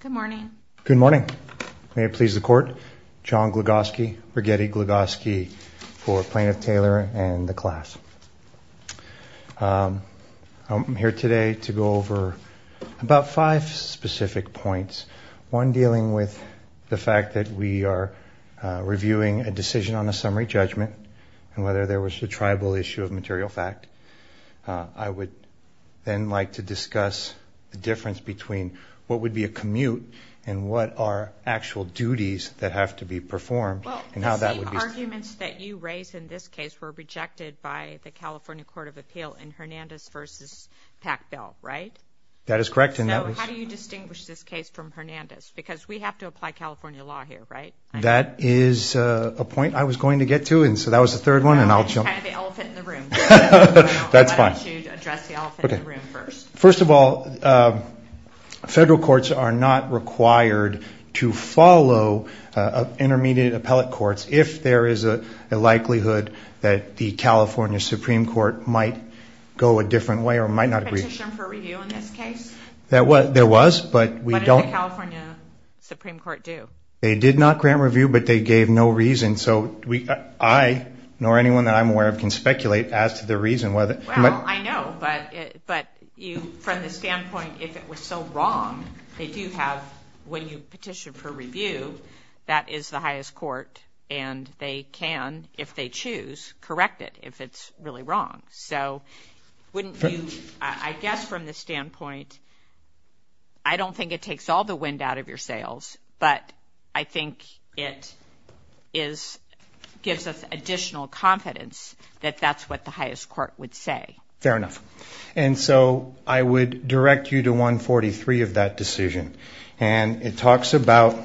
Good morning. Good morning. May it please the court. John Glugoski, Brighetti Glugoski for Plaintiff Taylor and the class. I'm here today to go over about five specific points. One dealing with the fact that we are reviewing a decision on a summary judgment and whether there was a tribal issue of a commute and what are actual duties that have to be performed and how that would be... Well, the arguments that you raise in this case were rejected by the California Court of Appeal in Hernandez v. Packbell, right? That is correct and that was... So how do you distinguish this case from Hernandez? Because we have to apply California law here, right? That is a point I was going to get to and so that was the third one and I'll jump... It's kind of the elephant in the not required to follow intermediate appellate courts if there is a likelihood that the California Supreme Court might go a different way or might not agree. Was there a petition for review in this case? There was, but we don't... What did the California Supreme Court do? They did not grant review, but they gave no reason. So I, nor anyone that I'm aware of, can speculate as to the reason whether... Well, I know, but from the standpoint, if it was so wrong, they do have... When you petition for review, that is the highest court and they can, if they choose, correct it if it's really wrong. So wouldn't you... I guess from the standpoint, I don't think it takes all the wind out of your sails, but I think it gives us additional confidence that that's what the highest court would say. Fair enough. And so I would direct you to 143 of that decision and it talks about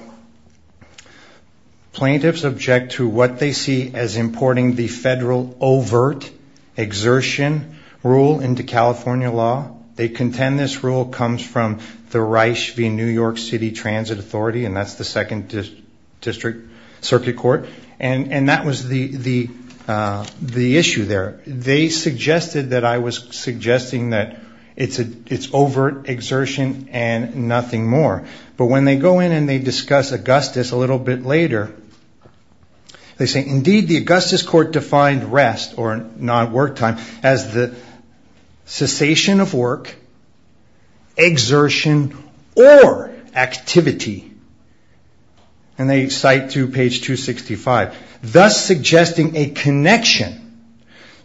plaintiffs object to what they see as importing the federal overt exertion rule into California law. They contend this rule comes from the Reisch v. New York City Transit Authority and that's the second district circuit court. And that was the issue there. They suggested that I was suggesting that it's overt exertion and nothing more. But when they go in and they discuss Augustus a little bit later, they say, indeed the Augustus court defined rest, or not work time, as the and they cite to page 265, thus suggesting a connection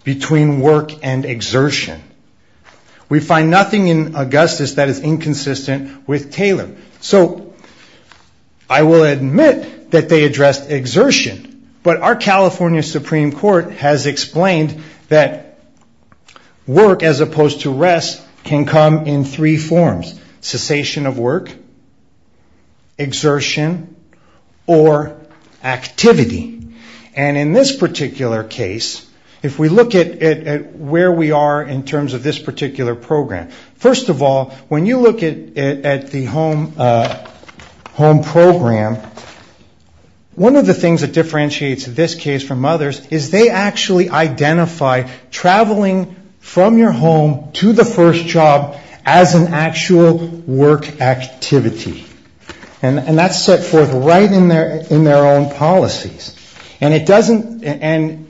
between work and exertion. We find nothing in Augustus that is inconsistent with Taylor. So I will admit that they addressed exertion, but our California Supreme Court has explained that work as opposed to rest can come in three forms. Cessation of work, exertion, or activity. And in this particular case, if we look at where we are in terms of this particular program, first of all, when you look at the home program, one of the things that differentiates this case from others is they actually identify traveling from your home to the first job as an actual work activity. And that's set forth right in their own policies. And it doesn't, and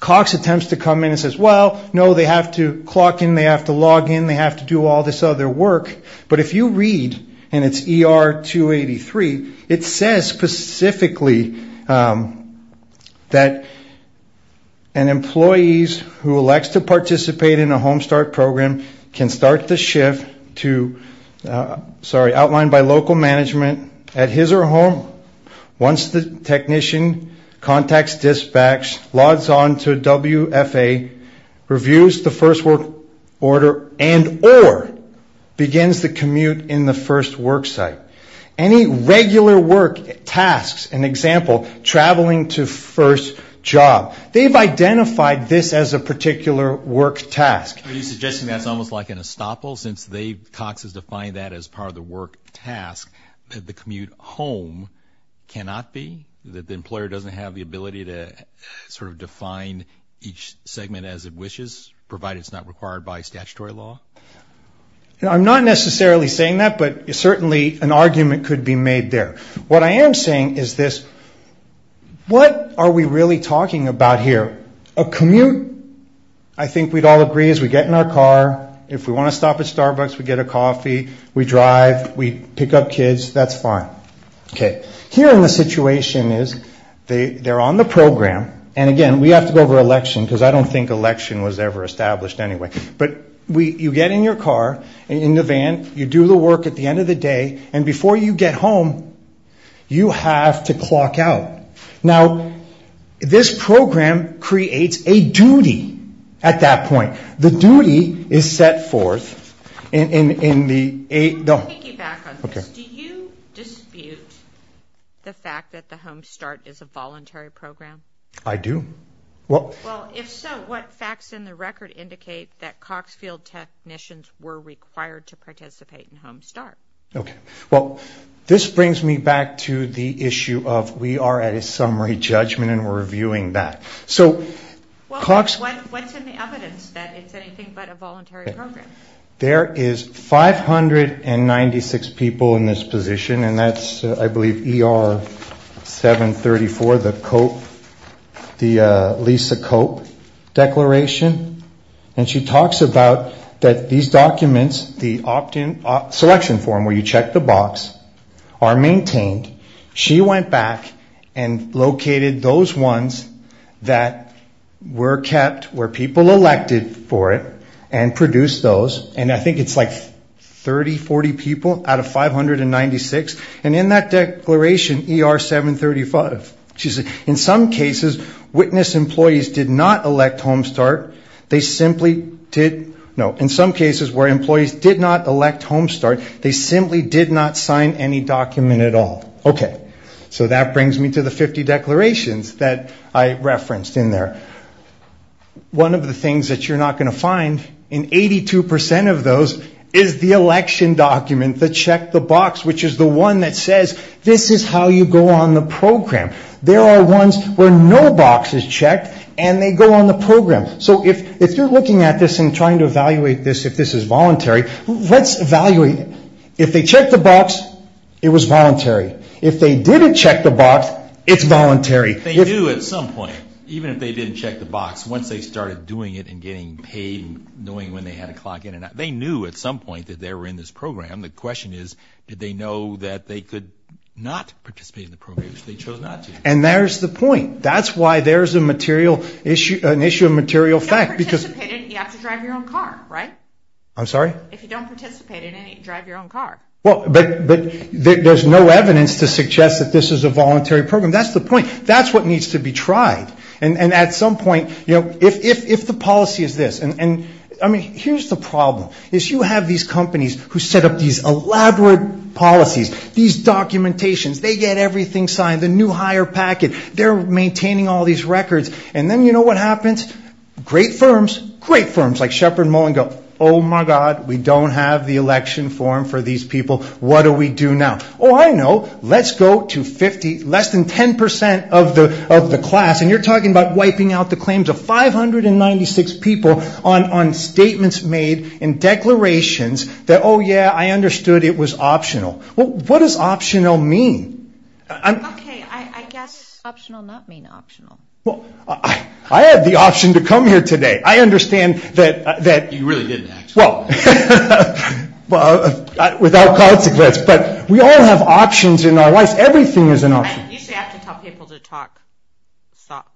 Cox attempts to come in and says, well, no, they have to clock in, they have to log in, they have to do all this other work. But if you employees who elect to participate in a home start program can start the shift to, sorry, outlined by local management at his or home, once the technician contacts dispatch, logs on to WFA, reviews the first work order, and or begins the commute in the first work site. Any regular work tasks, an example, traveling to first job, they've identified this as a particular work task. Are you suggesting that's almost like an estoppel since they, Cox has defined that as part of the work task, that the commute home cannot be? That the employer doesn't have the ability to sort of define each segment as it wishes, provided it's not required by statutory law? I'm not necessarily saying that, but certainly an argument could be made there. What I am saying is this, what are we really talking about here? A commute, I think we'd all agree, is we get in our car, if we want to stop at Starbucks, we get a coffee, we drive, we pick up kids, that's fine. Okay, here in the situation is, they're on the program, and again, we have to go election, because I don't think election was ever established anyway, but we, you get in your car, in the van, you do the work at the end of the day, and before you get home, you have to clock out. Now, this program creates a duty at that point. The duty is set forth in, in, in the eight, no. To piggyback on this, do you dispute the fact that the Home Start is a voluntary program? I do. Well, if so, what facts in the record indicate that Coxfield technicians were required to participate in Home Start? Okay, well, this brings me back to the issue of, we are at a summary judgment, and we're reviewing that. So, what's in the evidence that it's anything but a voluntary program? There is 596 people in this position, and that's, I believe, ER 734, the COPE, the Lisa COPE declaration, and she talks about that these documents, the opt-in selection form, where you check the box, are maintained. She went back and located those ones that were kept, where people elected for it, and produced those, and I think it's like 30, 40 people out of 596, and in that declaration, ER 735, she said, in some cases, witness employees did not elect Home Start. They simply did, no, in some cases, where employees did not elect Home Start, they simply did not sign any document at all. Okay, so that brings me to the 50 declarations that I referenced in there. One of the things that you're not going to find in 82% of those is the election document, the check the box, which is the one that says, this is how you go on the program. There are ones where no box is checked, and they go on the program. So, if you're looking at this and trying to evaluate this, if this is voluntary, let's evaluate. If they check the box, it was voluntary. If they didn't check the box, it's voluntary. They knew at some point, even if they didn't check the box, once they started doing it and getting paid, and knowing when they had a clock in and out, they knew at some point that they were in this program. The question is, did they know that they could not participate in the program, which they chose not to. And there's the point. That's why there's a material issue, an issue of material fact. You have to drive your own car, right? I'm sorry? If you don't participate in the program, you can't drive your own car. But there's no evidence to suggest that this is a voluntary program. That's the point. That's what needs to be tried. And at some point, you know, if the policy is this, and I mean, here's the problem, is you have these companies who set up these elaborate policies, these documentations, they get everything signed, the new hire packet, they're maintaining all these records, and then you know what happens? Great firms, great firms like Shepard Mullin go, oh, my God, we don't have the election form for these people, what do we do now? Oh, I know, let's go to 50, less than 10% of the class, and you're talking about wiping out the claims of 596 people on statements made and declarations that, oh, yeah, I understood it was optional. Well, what does optional mean? Okay, I guess optional does not mean optional. Well, I had the option to come here today. I understand that... You really didn't, actually. Well, without consequence, but we all have options in our lives. Everything is an option. I usually have to tell people to talk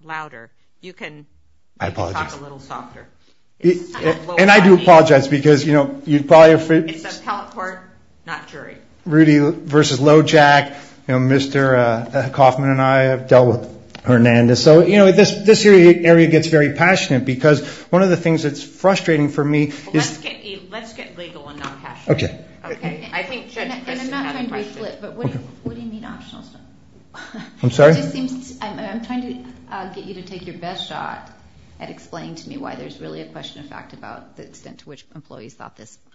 louder. You can talk a little softer. And I do apologize because, you know, you probably... It's appellate court, not jury. Rudy versus Lojack, you know, Mr. Kaufman and I have dealt with Hernandez. So, you know, this area gets very passionate because one of the things that's frustrating for me is... Let's get legal and not passionate. Okay. And I'm not trying to re-flip, but what do you mean optional stuff? I'm sorry? It just seems... I'm trying to get you to take your best shot at explaining to me why there's really a question of about the extent to which employees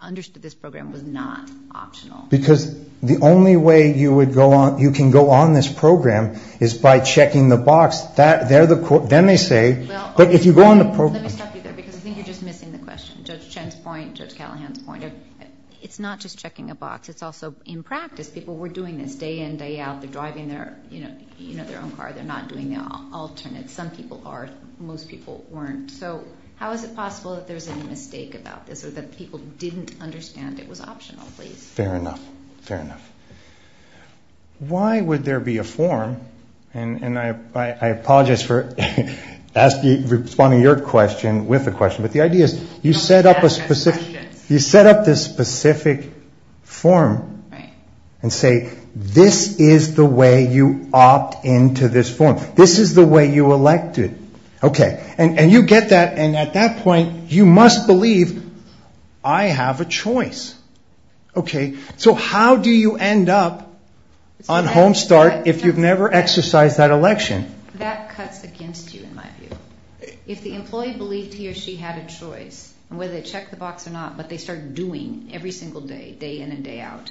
understood this program was not optional. Because the only way you can go on this program is by checking the box. Then they say, but if you go on the program... Let me stop you there because I think you're just missing the question. Judge Chen's point, Judge Callahan's point. It's not just checking a box. It's also, in practice, people were doing this day in, day out. They're driving their own car. They're not doing the alternate. Some people are. Most people weren't. So how is it possible that there's a mistake about this or that people didn't understand it was optional, please? Fair enough. Fair enough. Why would there be a form? And I apologize for responding to your question with a question. But the idea is you set up this specific form and say, this is the way you opt into this form. This is the way you elected. Okay. And you get that. And at that point, you must believe I have a choice. Okay. So how do you end up on HomeStart if you've never exercised that election? That cuts against you, in my view. If the employee believed he or she had a choice, whether they check the box or not, but they start doing every single day, day in and day out,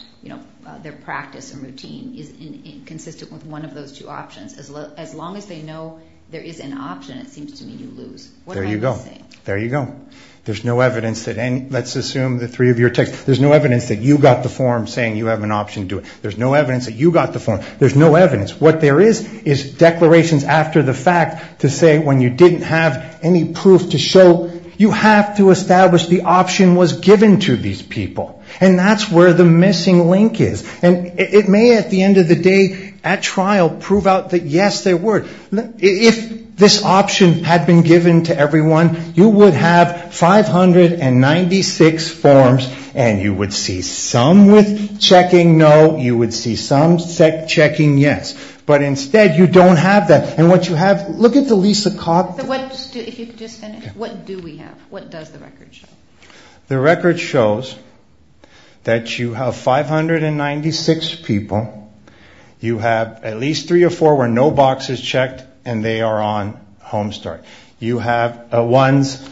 their practice and routine, is inconsistent with one of those two options. As long as they know there is an option, it seems to me you lose. What am I missing? There you go. There you go. There's no evidence that any, let's assume the three of your texts, there's no evidence that you got the form saying you have an option to do it. There's no evidence that you got the form. There's no evidence. What there is is declarations after the fact to say when you didn't have any proof to show, you have to establish the option was given to these people. And that's where the missing link is. And it may, at the end of the day, at trial, prove out that, yes, there were. If this option had been given to everyone, you would have 596 forms, and you would see some with checking no, you would see some checking yes. But instead, you don't have that. And what you have, look at the Lisa Cogden. If you could just finish. What do we have? What does the record show? The record shows that you have 596 people. You have at least three or four where no box is checked, and they are on Homestart. You have ones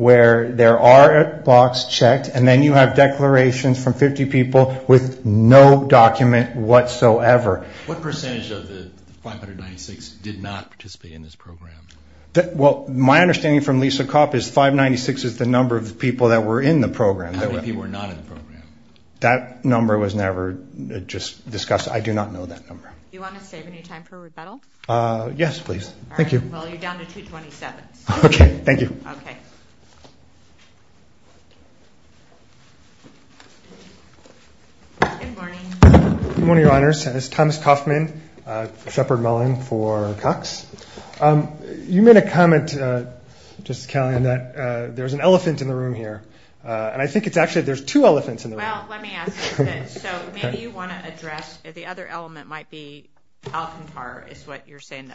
where there are a box checked, and then you have declarations from 50 people with no document whatsoever. What percentage of the 596 did not participate in this program? My understanding from Lisa Copp is 596 is the number of people that were in the program. How many people were not in the program? That number was never just discussed. I do not know that number. Do you want to save any time for rebuttal? Yes, please. Thank you. Well, you're down to 227. Okay. Thank you. Okay. Good morning. Good morning, Your Honors. This is Thomas Kaufman, Shepard Mullen for Cox. You made a comment, Justice Kellyanne, that there's an elephant in the room here, and I think it's actually there's two elephants in the room. Well, let me ask you this. So maybe you want to address the other element might be Alcantara is what you're saying.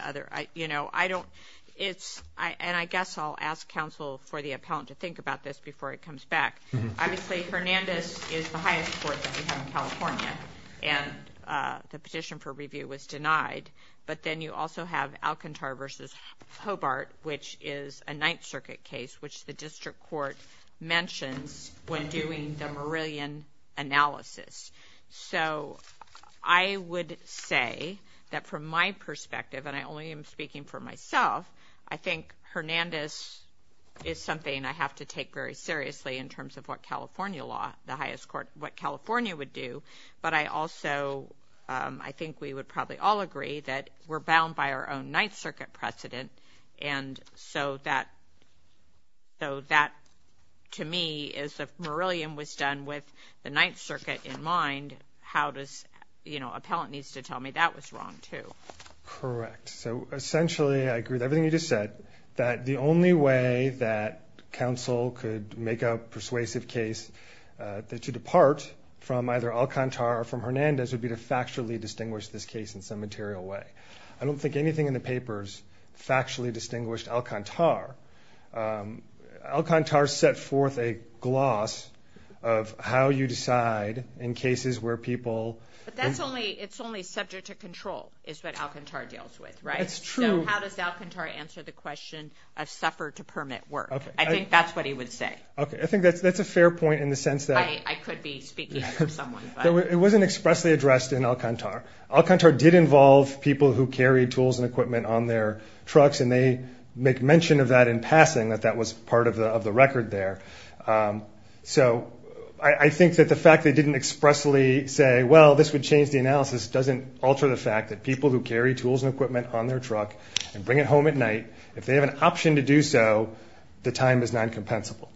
You know, I don't – and I guess I'll ask counsel for the appellant to think about this before it comes back. Obviously, Hernandez is the highest court that we have in California, and the petition for review was denied. But then you also have Alcantara v. Hobart, which is a Ninth Circuit case, which the district court mentions when doing the Meridian analysis. So I would say that from my perspective, and I only am speaking for myself, I think Hernandez is something I have to take very seriously in terms of what California law, the highest court, what California would do. But I also – I think we would probably all agree that we're bound by our own Ninth Circuit precedent, and so that to me is if Meridian was done with the Ninth Circuit in mind, how does – you know, appellant needs to tell me that was wrong too. Correct. So essentially, I agree with everything you just said, that the only way that counsel could make a persuasive case to depart from either Alcantara or from Hernandez would be to factually distinguish this case in some material way. I don't think anything in the papers factually distinguished Alcantara. Alcantara set forth a gloss of how you decide in cases where people – But that's only – it's only subject to control is what Alcantara deals with, right? That's true. So how does Alcantara answer the question of suffer to permit work? I think that's what he would say. Okay. I think that's a fair point in the sense that – I could be speaking for someone, but – It wasn't expressly addressed in Alcantara. Alcantara did involve people who carried tools and equipment on their trucks, and they make mention of that in passing, that that was part of the record there. So I think that the fact they didn't expressly say, well, this would change the analysis, doesn't alter the fact that people who carry tools and equipment on their truck and bring it home at night, if they have an option to do so, the time is non-compensable.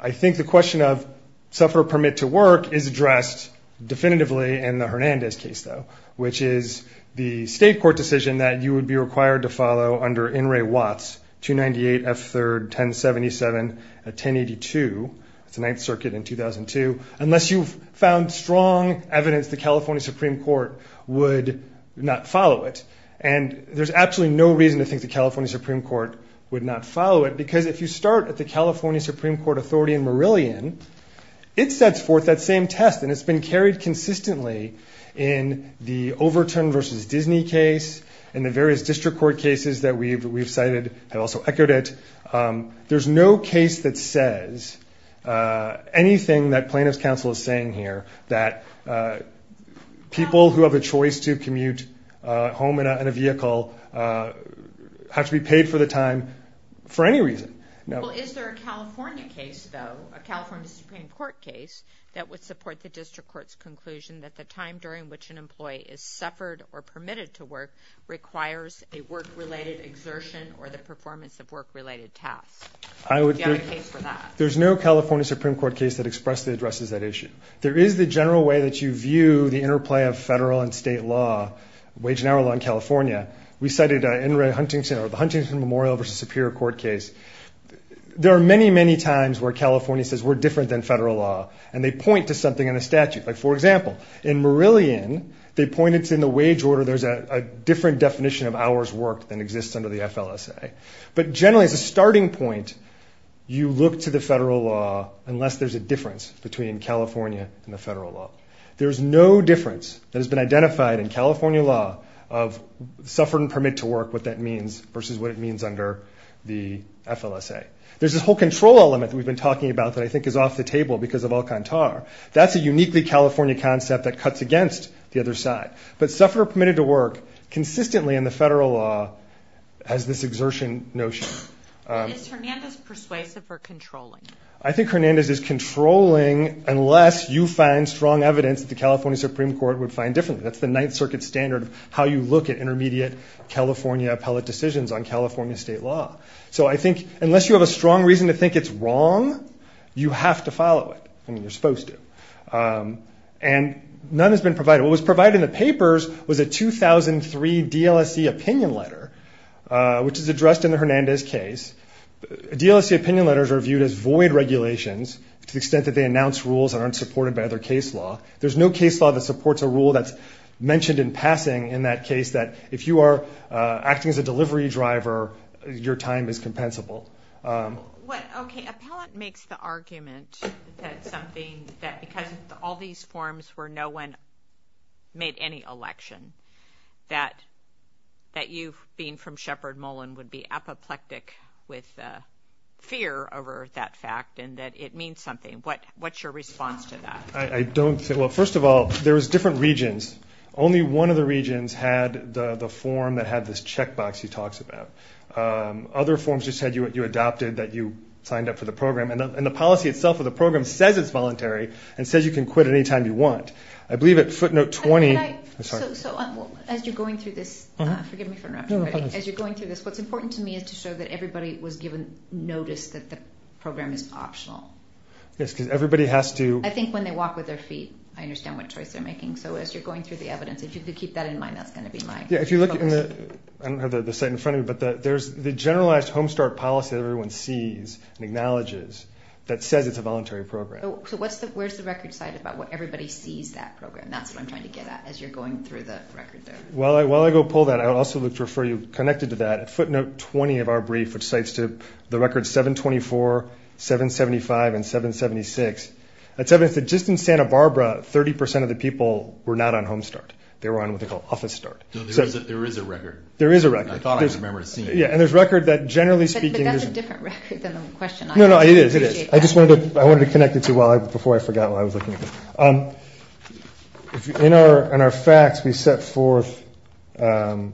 I think the question of suffer to permit to work is addressed definitively in the Hernandez case, though, which is the state court decision that you would be required to follow under In re Watts, 298 F. 3rd, 1077, 1082. It's the Ninth Circuit in 2002. Unless you've found strong evidence, the California Supreme Court would not follow it. And there's absolutely no reason to think the California Supreme Court would not follow it, because if you start at the California Supreme Court authority in Marillion, it sets forth that same test, and it's been carried consistently in the Overturn v. Disney case, in the various district court cases that we've cited have also echoed it. There's no case that says anything that plaintiff's counsel is saying here, that people who have a choice to commute home in a vehicle have to be paid for the time for any reason. Well, is there a California case, though, a California Supreme Court case, that would support the district court's conclusion that the time during which an employee is suffered or permitted to work requires a work-related exertion or the performance of work-related tasks? Do you have a case for that? There's no California Supreme Court case that expressly addresses that issue. There is the general way that you view the interplay of federal and state law, wage and hour law in California. We cited the Huntington Memorial v. Superior Court case. There are many, many times where California says we're different than federal law, and they point to something in a statute. Like, for example, in Murillian, they point it's in the wage order. There's a different definition of hours worked than exists under the FLSA. But generally, as a starting point, you look to the federal law unless there's a difference between California and the federal law. There's no difference that has been identified in California law of suffered and permit to work, what that means, versus what it means under the FLSA. There's this whole control element that we've been talking about that I think is off the table because of Alcantar. That's a uniquely California concept that cuts against the other side. But suffered or permitted to work consistently in the federal law has this exertion notion. Is Hernandez persuasive or controlling? I think Hernandez is controlling unless you find strong evidence that the California Supreme Court would find differently. That's the Ninth Circuit standard of how you look at intermediate California appellate decisions on California state law. So I think unless you have a strong reason to think it's wrong, you have to follow it. I mean, you're supposed to. And none has been provided. What was provided in the papers was a 2003 DLSE opinion letter, which is addressed in the Hernandez case. DLSE opinion letters are viewed as void regulations to the extent that they announce rules that aren't supported by other case law. There's no case law that supports a rule that's mentioned in passing in that case that if you are acting as a delivery driver, your time is compensable. Okay. Appellant makes the argument that something that because of all these forms where no one made any election, that you being from Shepard Mullen would be apoplectic with fear over that fact and that it means something. What's your response to that? I don't. Well, first of all, there was different regions. Only one of the regions had the form that had this checkbox he talks about. Other forms just had you adopted that you signed up for the program. And the policy itself of the program says it's voluntary and says you can quit any time you want. I believe at footnote 20. So as you're going through this, forgive me for interrupting, but as you're going through this, what's important to me is to show that everybody was given notice that the program is optional. Yes, because everybody has to. I think when they walk with their feet, I understand what choice they're making. So as you're going through the evidence, if you could keep that in mind, that's going to be my focus. I don't have the site in front of me, but there's the generalized Home Start policy that everyone sees and acknowledges that says it's a voluntary program. So where's the record cited about what everybody sees that program? That's what I'm trying to get at as you're going through the record there. While I go pull that, I would also like to refer you, connected to that, footnote 20 of our brief, which cites the records 724, 775, and 776. It's evidence that just in Santa Barbara, 30% of the people were not on Home Start. They were on what they call Office Start. No, there is a record. There is a record. I thought I would remember seeing it. Yeah, and there's record that generally speaking. But that's a different record than the question. No, no, it is, it is. I just wanted to connect it to before I forgot while I was looking at this. In our facts, we set forth how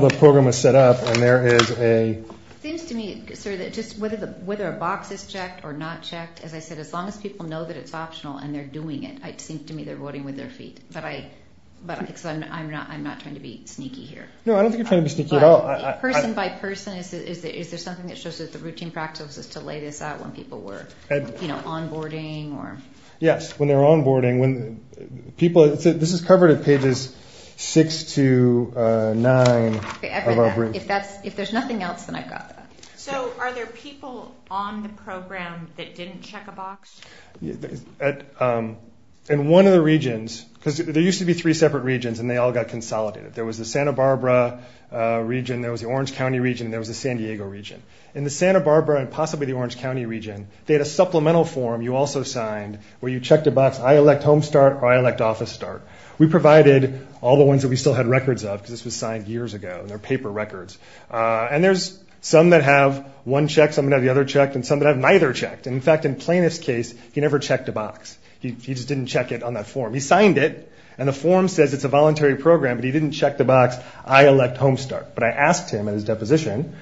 the program was set up, and there is a... It seems to me, sir, that just whether a box is checked or not checked, as I said, as long as people know that it's optional and they're doing it, it seems to me they're voting with their feet. But I'm not trying to be sneaky here. No, I don't think you're trying to be sneaky at all. Person by person, is there something that shows that the routine practice is to lay this out when people were onboarding? Yes, when they're onboarding. This is covered at pages 6 to 9 of our brief. If there's nothing else, then I've got that. So are there people on the program that didn't check a box? In one of the regions, because there used to be three separate regions, and they all got consolidated. There was the Santa Barbara region, there was the Orange County region, and there was the San Diego region. In the Santa Barbara and possibly the Orange County region, they had a supplemental form you also signed where you checked a box, I elect home start or I elect office start. We provided all the ones that we still had records of because this was signed years ago, and they're paper records. And there's some that have one checked, some that have the other checked, and some that have neither checked. In fact, in Plaintiff's case, he never checked a box. He just didn't check it on that form. He signed it, and the form says it's a voluntary program, but he didn't check the box, I elect home start. But I asked him at his deposition,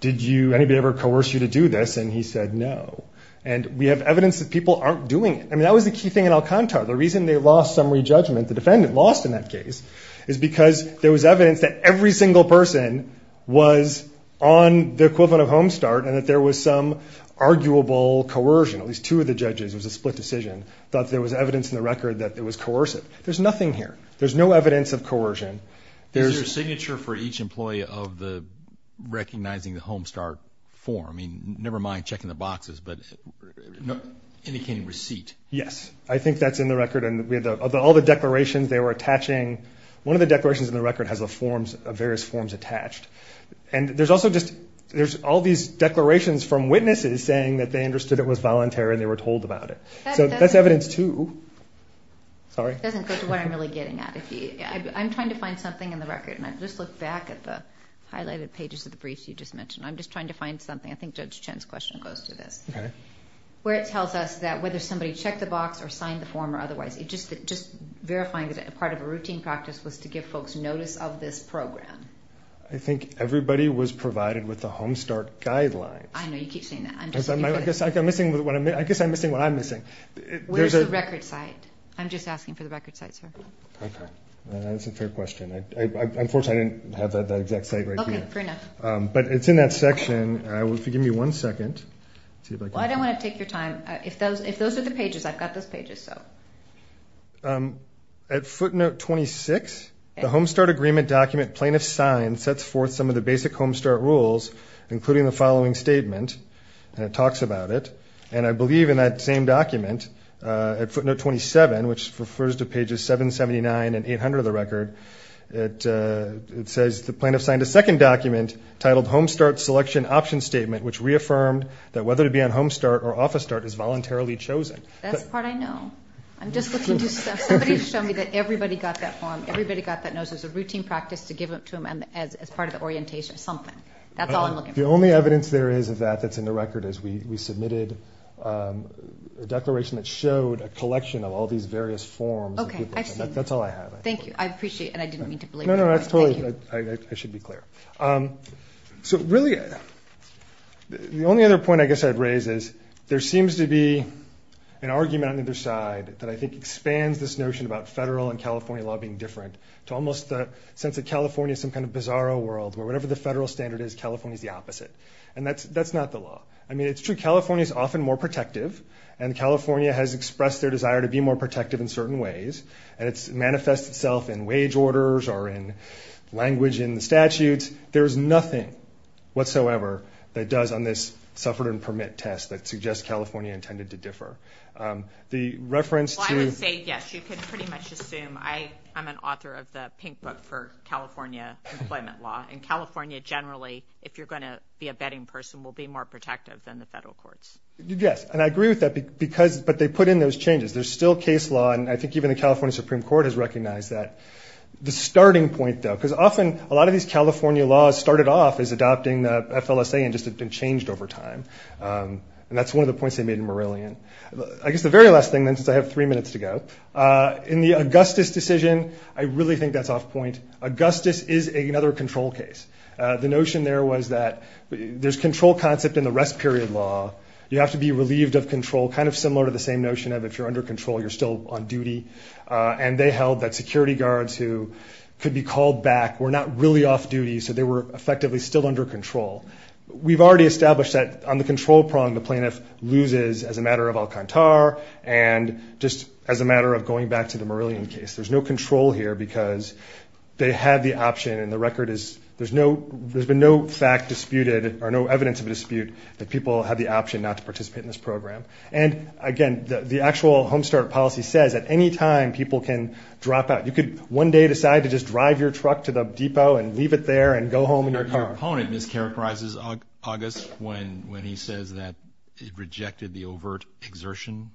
did anybody ever coerce you to do this? And he said no. And we have evidence that people aren't doing it. I mean, that was the key thing in Alcantara. The reason they lost summary judgment, the defendant lost in that case, is because there was evidence that every single person was on the equivalent of home start and that there was some arguable coercion. At least two of the judges, it was a split decision, thought there was evidence in the record that it was coercive. There's nothing here. There's no evidence of coercion. Is there a signature for each employee of the recognizing the home start form? I mean, never mind checking the boxes, but indicating receipt. Yes. I think that's in the record. And of all the declarations they were attaching, one of the declarations in the record has various forms attached. And there's also just all these declarations from witnesses saying that they understood it was voluntary and they were told about it. So that's evidence, too. Sorry. It doesn't go to what I'm really getting at. I'm trying to find something in the record, and I just look back at the highlighted pages of the brief you just mentioned. I'm just trying to find something. I think Judge Chen's question goes to this. Okay. Where it tells us that whether somebody checked the box or signed the form or otherwise, just verifying that part of a routine practice was to give folks notice of this program. I think everybody was provided with the home start guidelines. I know. You keep saying that. I guess I'm missing what I'm missing. Where's the record site? I'm just asking for the record site, sir. Okay. That's a fair question. Unfortunately, I didn't have that exact site right here. Okay. Fair enough. But it's in that section. If you give me one second. Well, I don't want to take your time. If those are the pages, I've got those pages. At footnote 26, the home start agreement document plaintiff signed sets forth some of the basic home start rules, including the following statement, and it talks about it. And I believe in that same document, at footnote 27, which refers to pages 779 and 800 of the record, it says the plaintiff signed a second document titled Home Start Selection Option Statement, which reaffirmed that whether to be on Home Start or Office Start is voluntarily chosen. That's the part I know. I'm just looking to somebody to show me that everybody got that form, everybody got that, knows there's a routine practice to give it to them as part of the orientation or something. That's all I'm looking for. The only evidence there is of that that's in the record is we submitted a declaration that showed a collection of all these various forms. Okay, I see. That's all I have. Thank you. I appreciate it, and I didn't mean to belabor it. No, no, that's totally fine. I should be clear. So really, the only other point I guess I'd raise is there seems to be an argument on either side that I think expands this notion about federal and California law being different to almost the sense that California is some kind of bizarro world where whatever the federal standard is, California is the opposite. And that's not the law. I mean, it's true California is often more protective, and California has expressed their desire to be more protective in certain ways, and it manifests itself in wage orders or in language in the statutes. There's nothing whatsoever that does on this suffered-and-permit test that suggests California intended to differ. The reference to – Well, I would say yes. You could pretty much assume I'm an author of the pink book for California employment law, and California generally, if you're going to be a betting person, will be more protective than the federal courts. Yes, and I agree with that, but they put in those changes. There's still case law, and I think even the California Supreme Court has recognized that. The starting point, though, because often a lot of these California laws started off as adopting the FLSA and just have been changed over time, and that's one of the points they made in Morillion. I guess the very last thing, then, since I have three minutes to go. In the Augustus decision, I really think that's off point. Augustus is another control case. The notion there was that there's control concept in the rest period law. You have to be relieved of control, kind of similar to the same notion of if you're under control, you're still on duty, and they held that security guards who could be called back were not really off duty, so they were effectively still under control. We've already established that on the control prong, the plaintiff loses as a matter of Alcantar and just as a matter of going back to the Morillion case. There's no control here because they had the option, and the record is there's been no fact disputed or no evidence of a dispute that people had the option not to participate in this program. And, again, the actual Home Start policy says that any time people can drop out, you could one day decide to just drive your truck to the depot and leave it there and go home in your car. Your opponent mischaracterizes Augustus when he says that it rejected the overt exertion.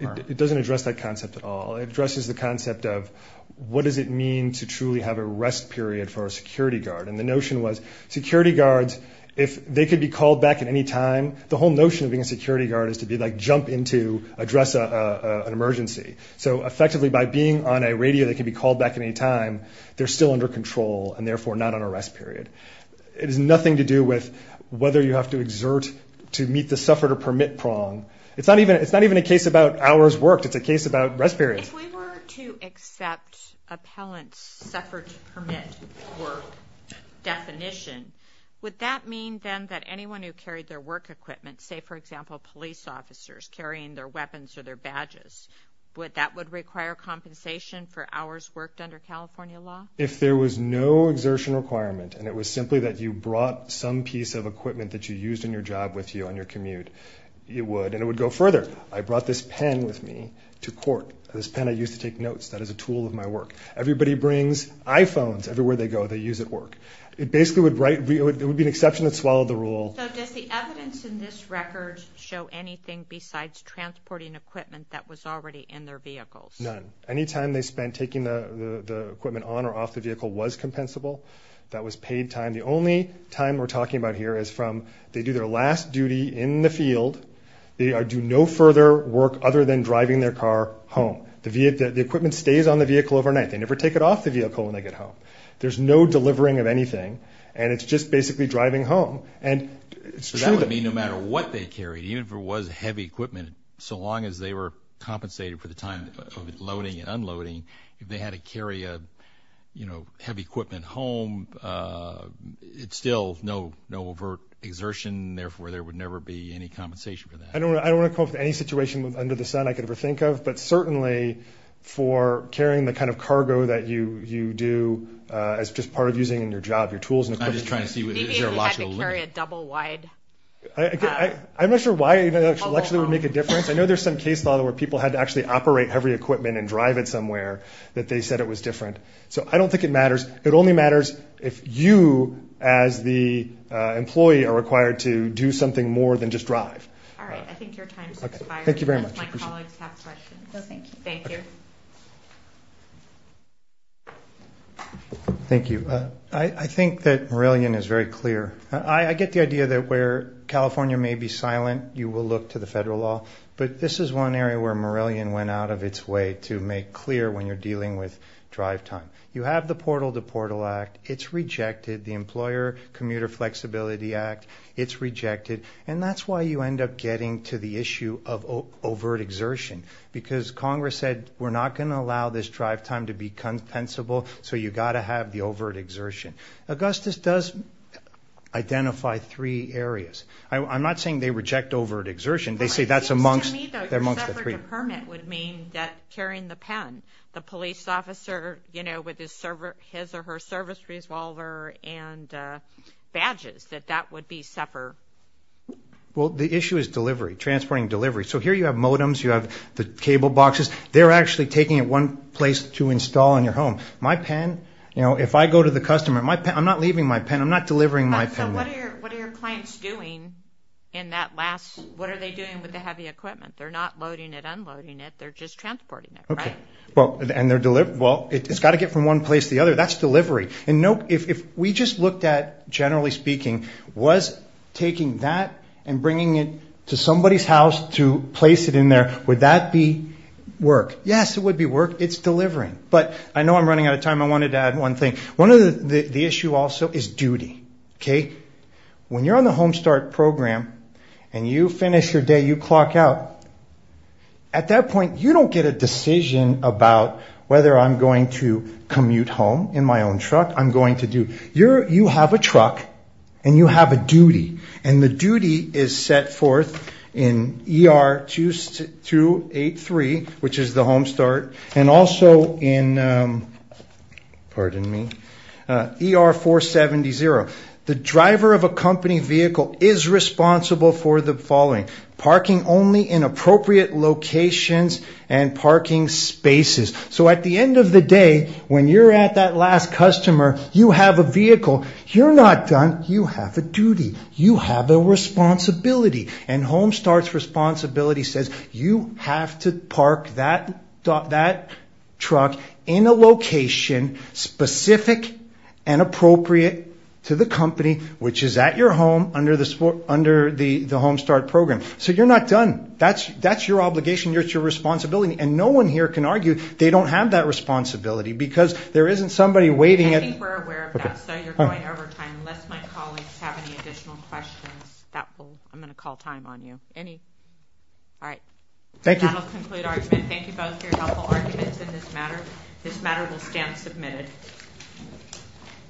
It doesn't address that concept at all. It addresses the concept of what does it mean to truly have a rest period for a security guard, and the notion was security guards, if they could be called back at any time, the whole notion of being a security guard is to be like jump in to address an emergency. So, effectively, by being on a radio that can be called back at any time, they're still under control and, therefore, not on a rest period. It has nothing to do with whether you have to exert to meet the suffragette permit prong. It's not even a case about hours worked. It's a case about rest periods. If we were to accept appellant's suffragette permit work definition, would that mean, then, that anyone who carried their work equipment, say, for example, police officers carrying their weapons or their badges, that would require compensation for hours worked under California law? If there was no exertion requirement and it was simply that you brought some piece of equipment that you used in your job with you on your commute, it would, and it would go further. I brought this pen with me to court. This pen I used to take notes. That is a tool of my work. Everybody brings iPhones everywhere they go they use at work. It basically would be an exception that swallowed the rule. So, does the evidence in this record show anything besides transporting equipment that was already in their vehicles? None. Any time they spent taking the equipment on or off the vehicle was compensable. That was paid time. The only time we're talking about here is from they do their last duty in the field. They do no further work other than driving their car home. The equipment stays on the vehicle overnight. They never take it off the vehicle when they get home. There's no delivering of anything, and it's just basically driving home, and it's true. So that would mean no matter what they carried, even if it was heavy equipment, so long as they were compensated for the time of loading and unloading, if they had to carry heavy equipment home, it's still no overt exertion, and therefore there would never be any compensation for that. I don't want to come up with any situation under the sun I could ever think of, but certainly for carrying the kind of cargo that you do as just part of using in your job, your tools and equipment. I'm just trying to see whether there's a logical limit. Maybe if you had to carry a double-wide. I'm not sure why that actually would make a difference. I know there's some case law where people had to actually operate heavy equipment and drive it somewhere that they said it was different. So I don't think it matters. It only matters if you as the employee are required to do something more than just drive. All right. I think your time has expired. Thank you very much. My colleagues have questions. No, thank you. Thank you. Thank you. I think that Morelian is very clear. I get the idea that where California may be silent, you will look to the federal law, but this is one area where Morelian went out of its way to make clear when you're dealing with drive time. You have the Portal to Portal Act. It's rejected. The Employer Commuter Flexibility Act, it's rejected. And that's why you end up getting to the issue of overt exertion, because Congress said we're not going to allow this drive time to be compensable, so you've got to have the overt exertion. Augustus does identify three areas. I'm not saying they reject overt exertion. They say that's amongst the three. Except for the permit would mean carrying the pen. The police officer, you know, with his or her service resolver and badges, that that would be separate. Well, the issue is delivery, transporting delivery. So here you have modems. You have the cable boxes. They're actually taking it one place to install in your home. My pen, you know, if I go to the customer, my pen, I'm not leaving my pen. I'm not delivering my pen. So what are your clients doing in that last, what are they doing with the heavy equipment? They're not loading it, unloading it. They're just transporting it, right? Well, it's got to get from one place to the other. That's delivery. And if we just looked at, generally speaking, was taking that and bringing it to somebody's house to place it in there, would that be work? Yes, it would be work. It's delivering. But I know I'm running out of time. I wanted to add one thing. One of the issues also is duty, okay? When you're on the Home Start program and you finish your day, you clock out, at that point, you don't get a decision about whether I'm going to commute home in my own truck. I'm going to do, you have a truck and you have a duty, and the duty is set forth in ER-283, which is the Home Start, and also in, pardon me, ER-470-0. The driver of a company vehicle is responsible for the following. Parking only in appropriate locations and parking spaces. So at the end of the day, when you're at that last customer, you have a vehicle. You're not done. You have a duty. You have a responsibility. And Home Start's responsibility says you have to park that truck in a location specific and appropriate to the company, which is at your home under the Home Start program. So you're not done. That's your obligation. It's your responsibility. And no one here can argue they don't have that responsibility because there isn't somebody waiting. I think we're aware of that. So you're going over time. Unless my colleagues have any additional questions, that will, I'm going to call time on you. Any, all right. Thank you. That will conclude our argument. Thank you both for your helpful arguments in this matter. This matter will stand submitted.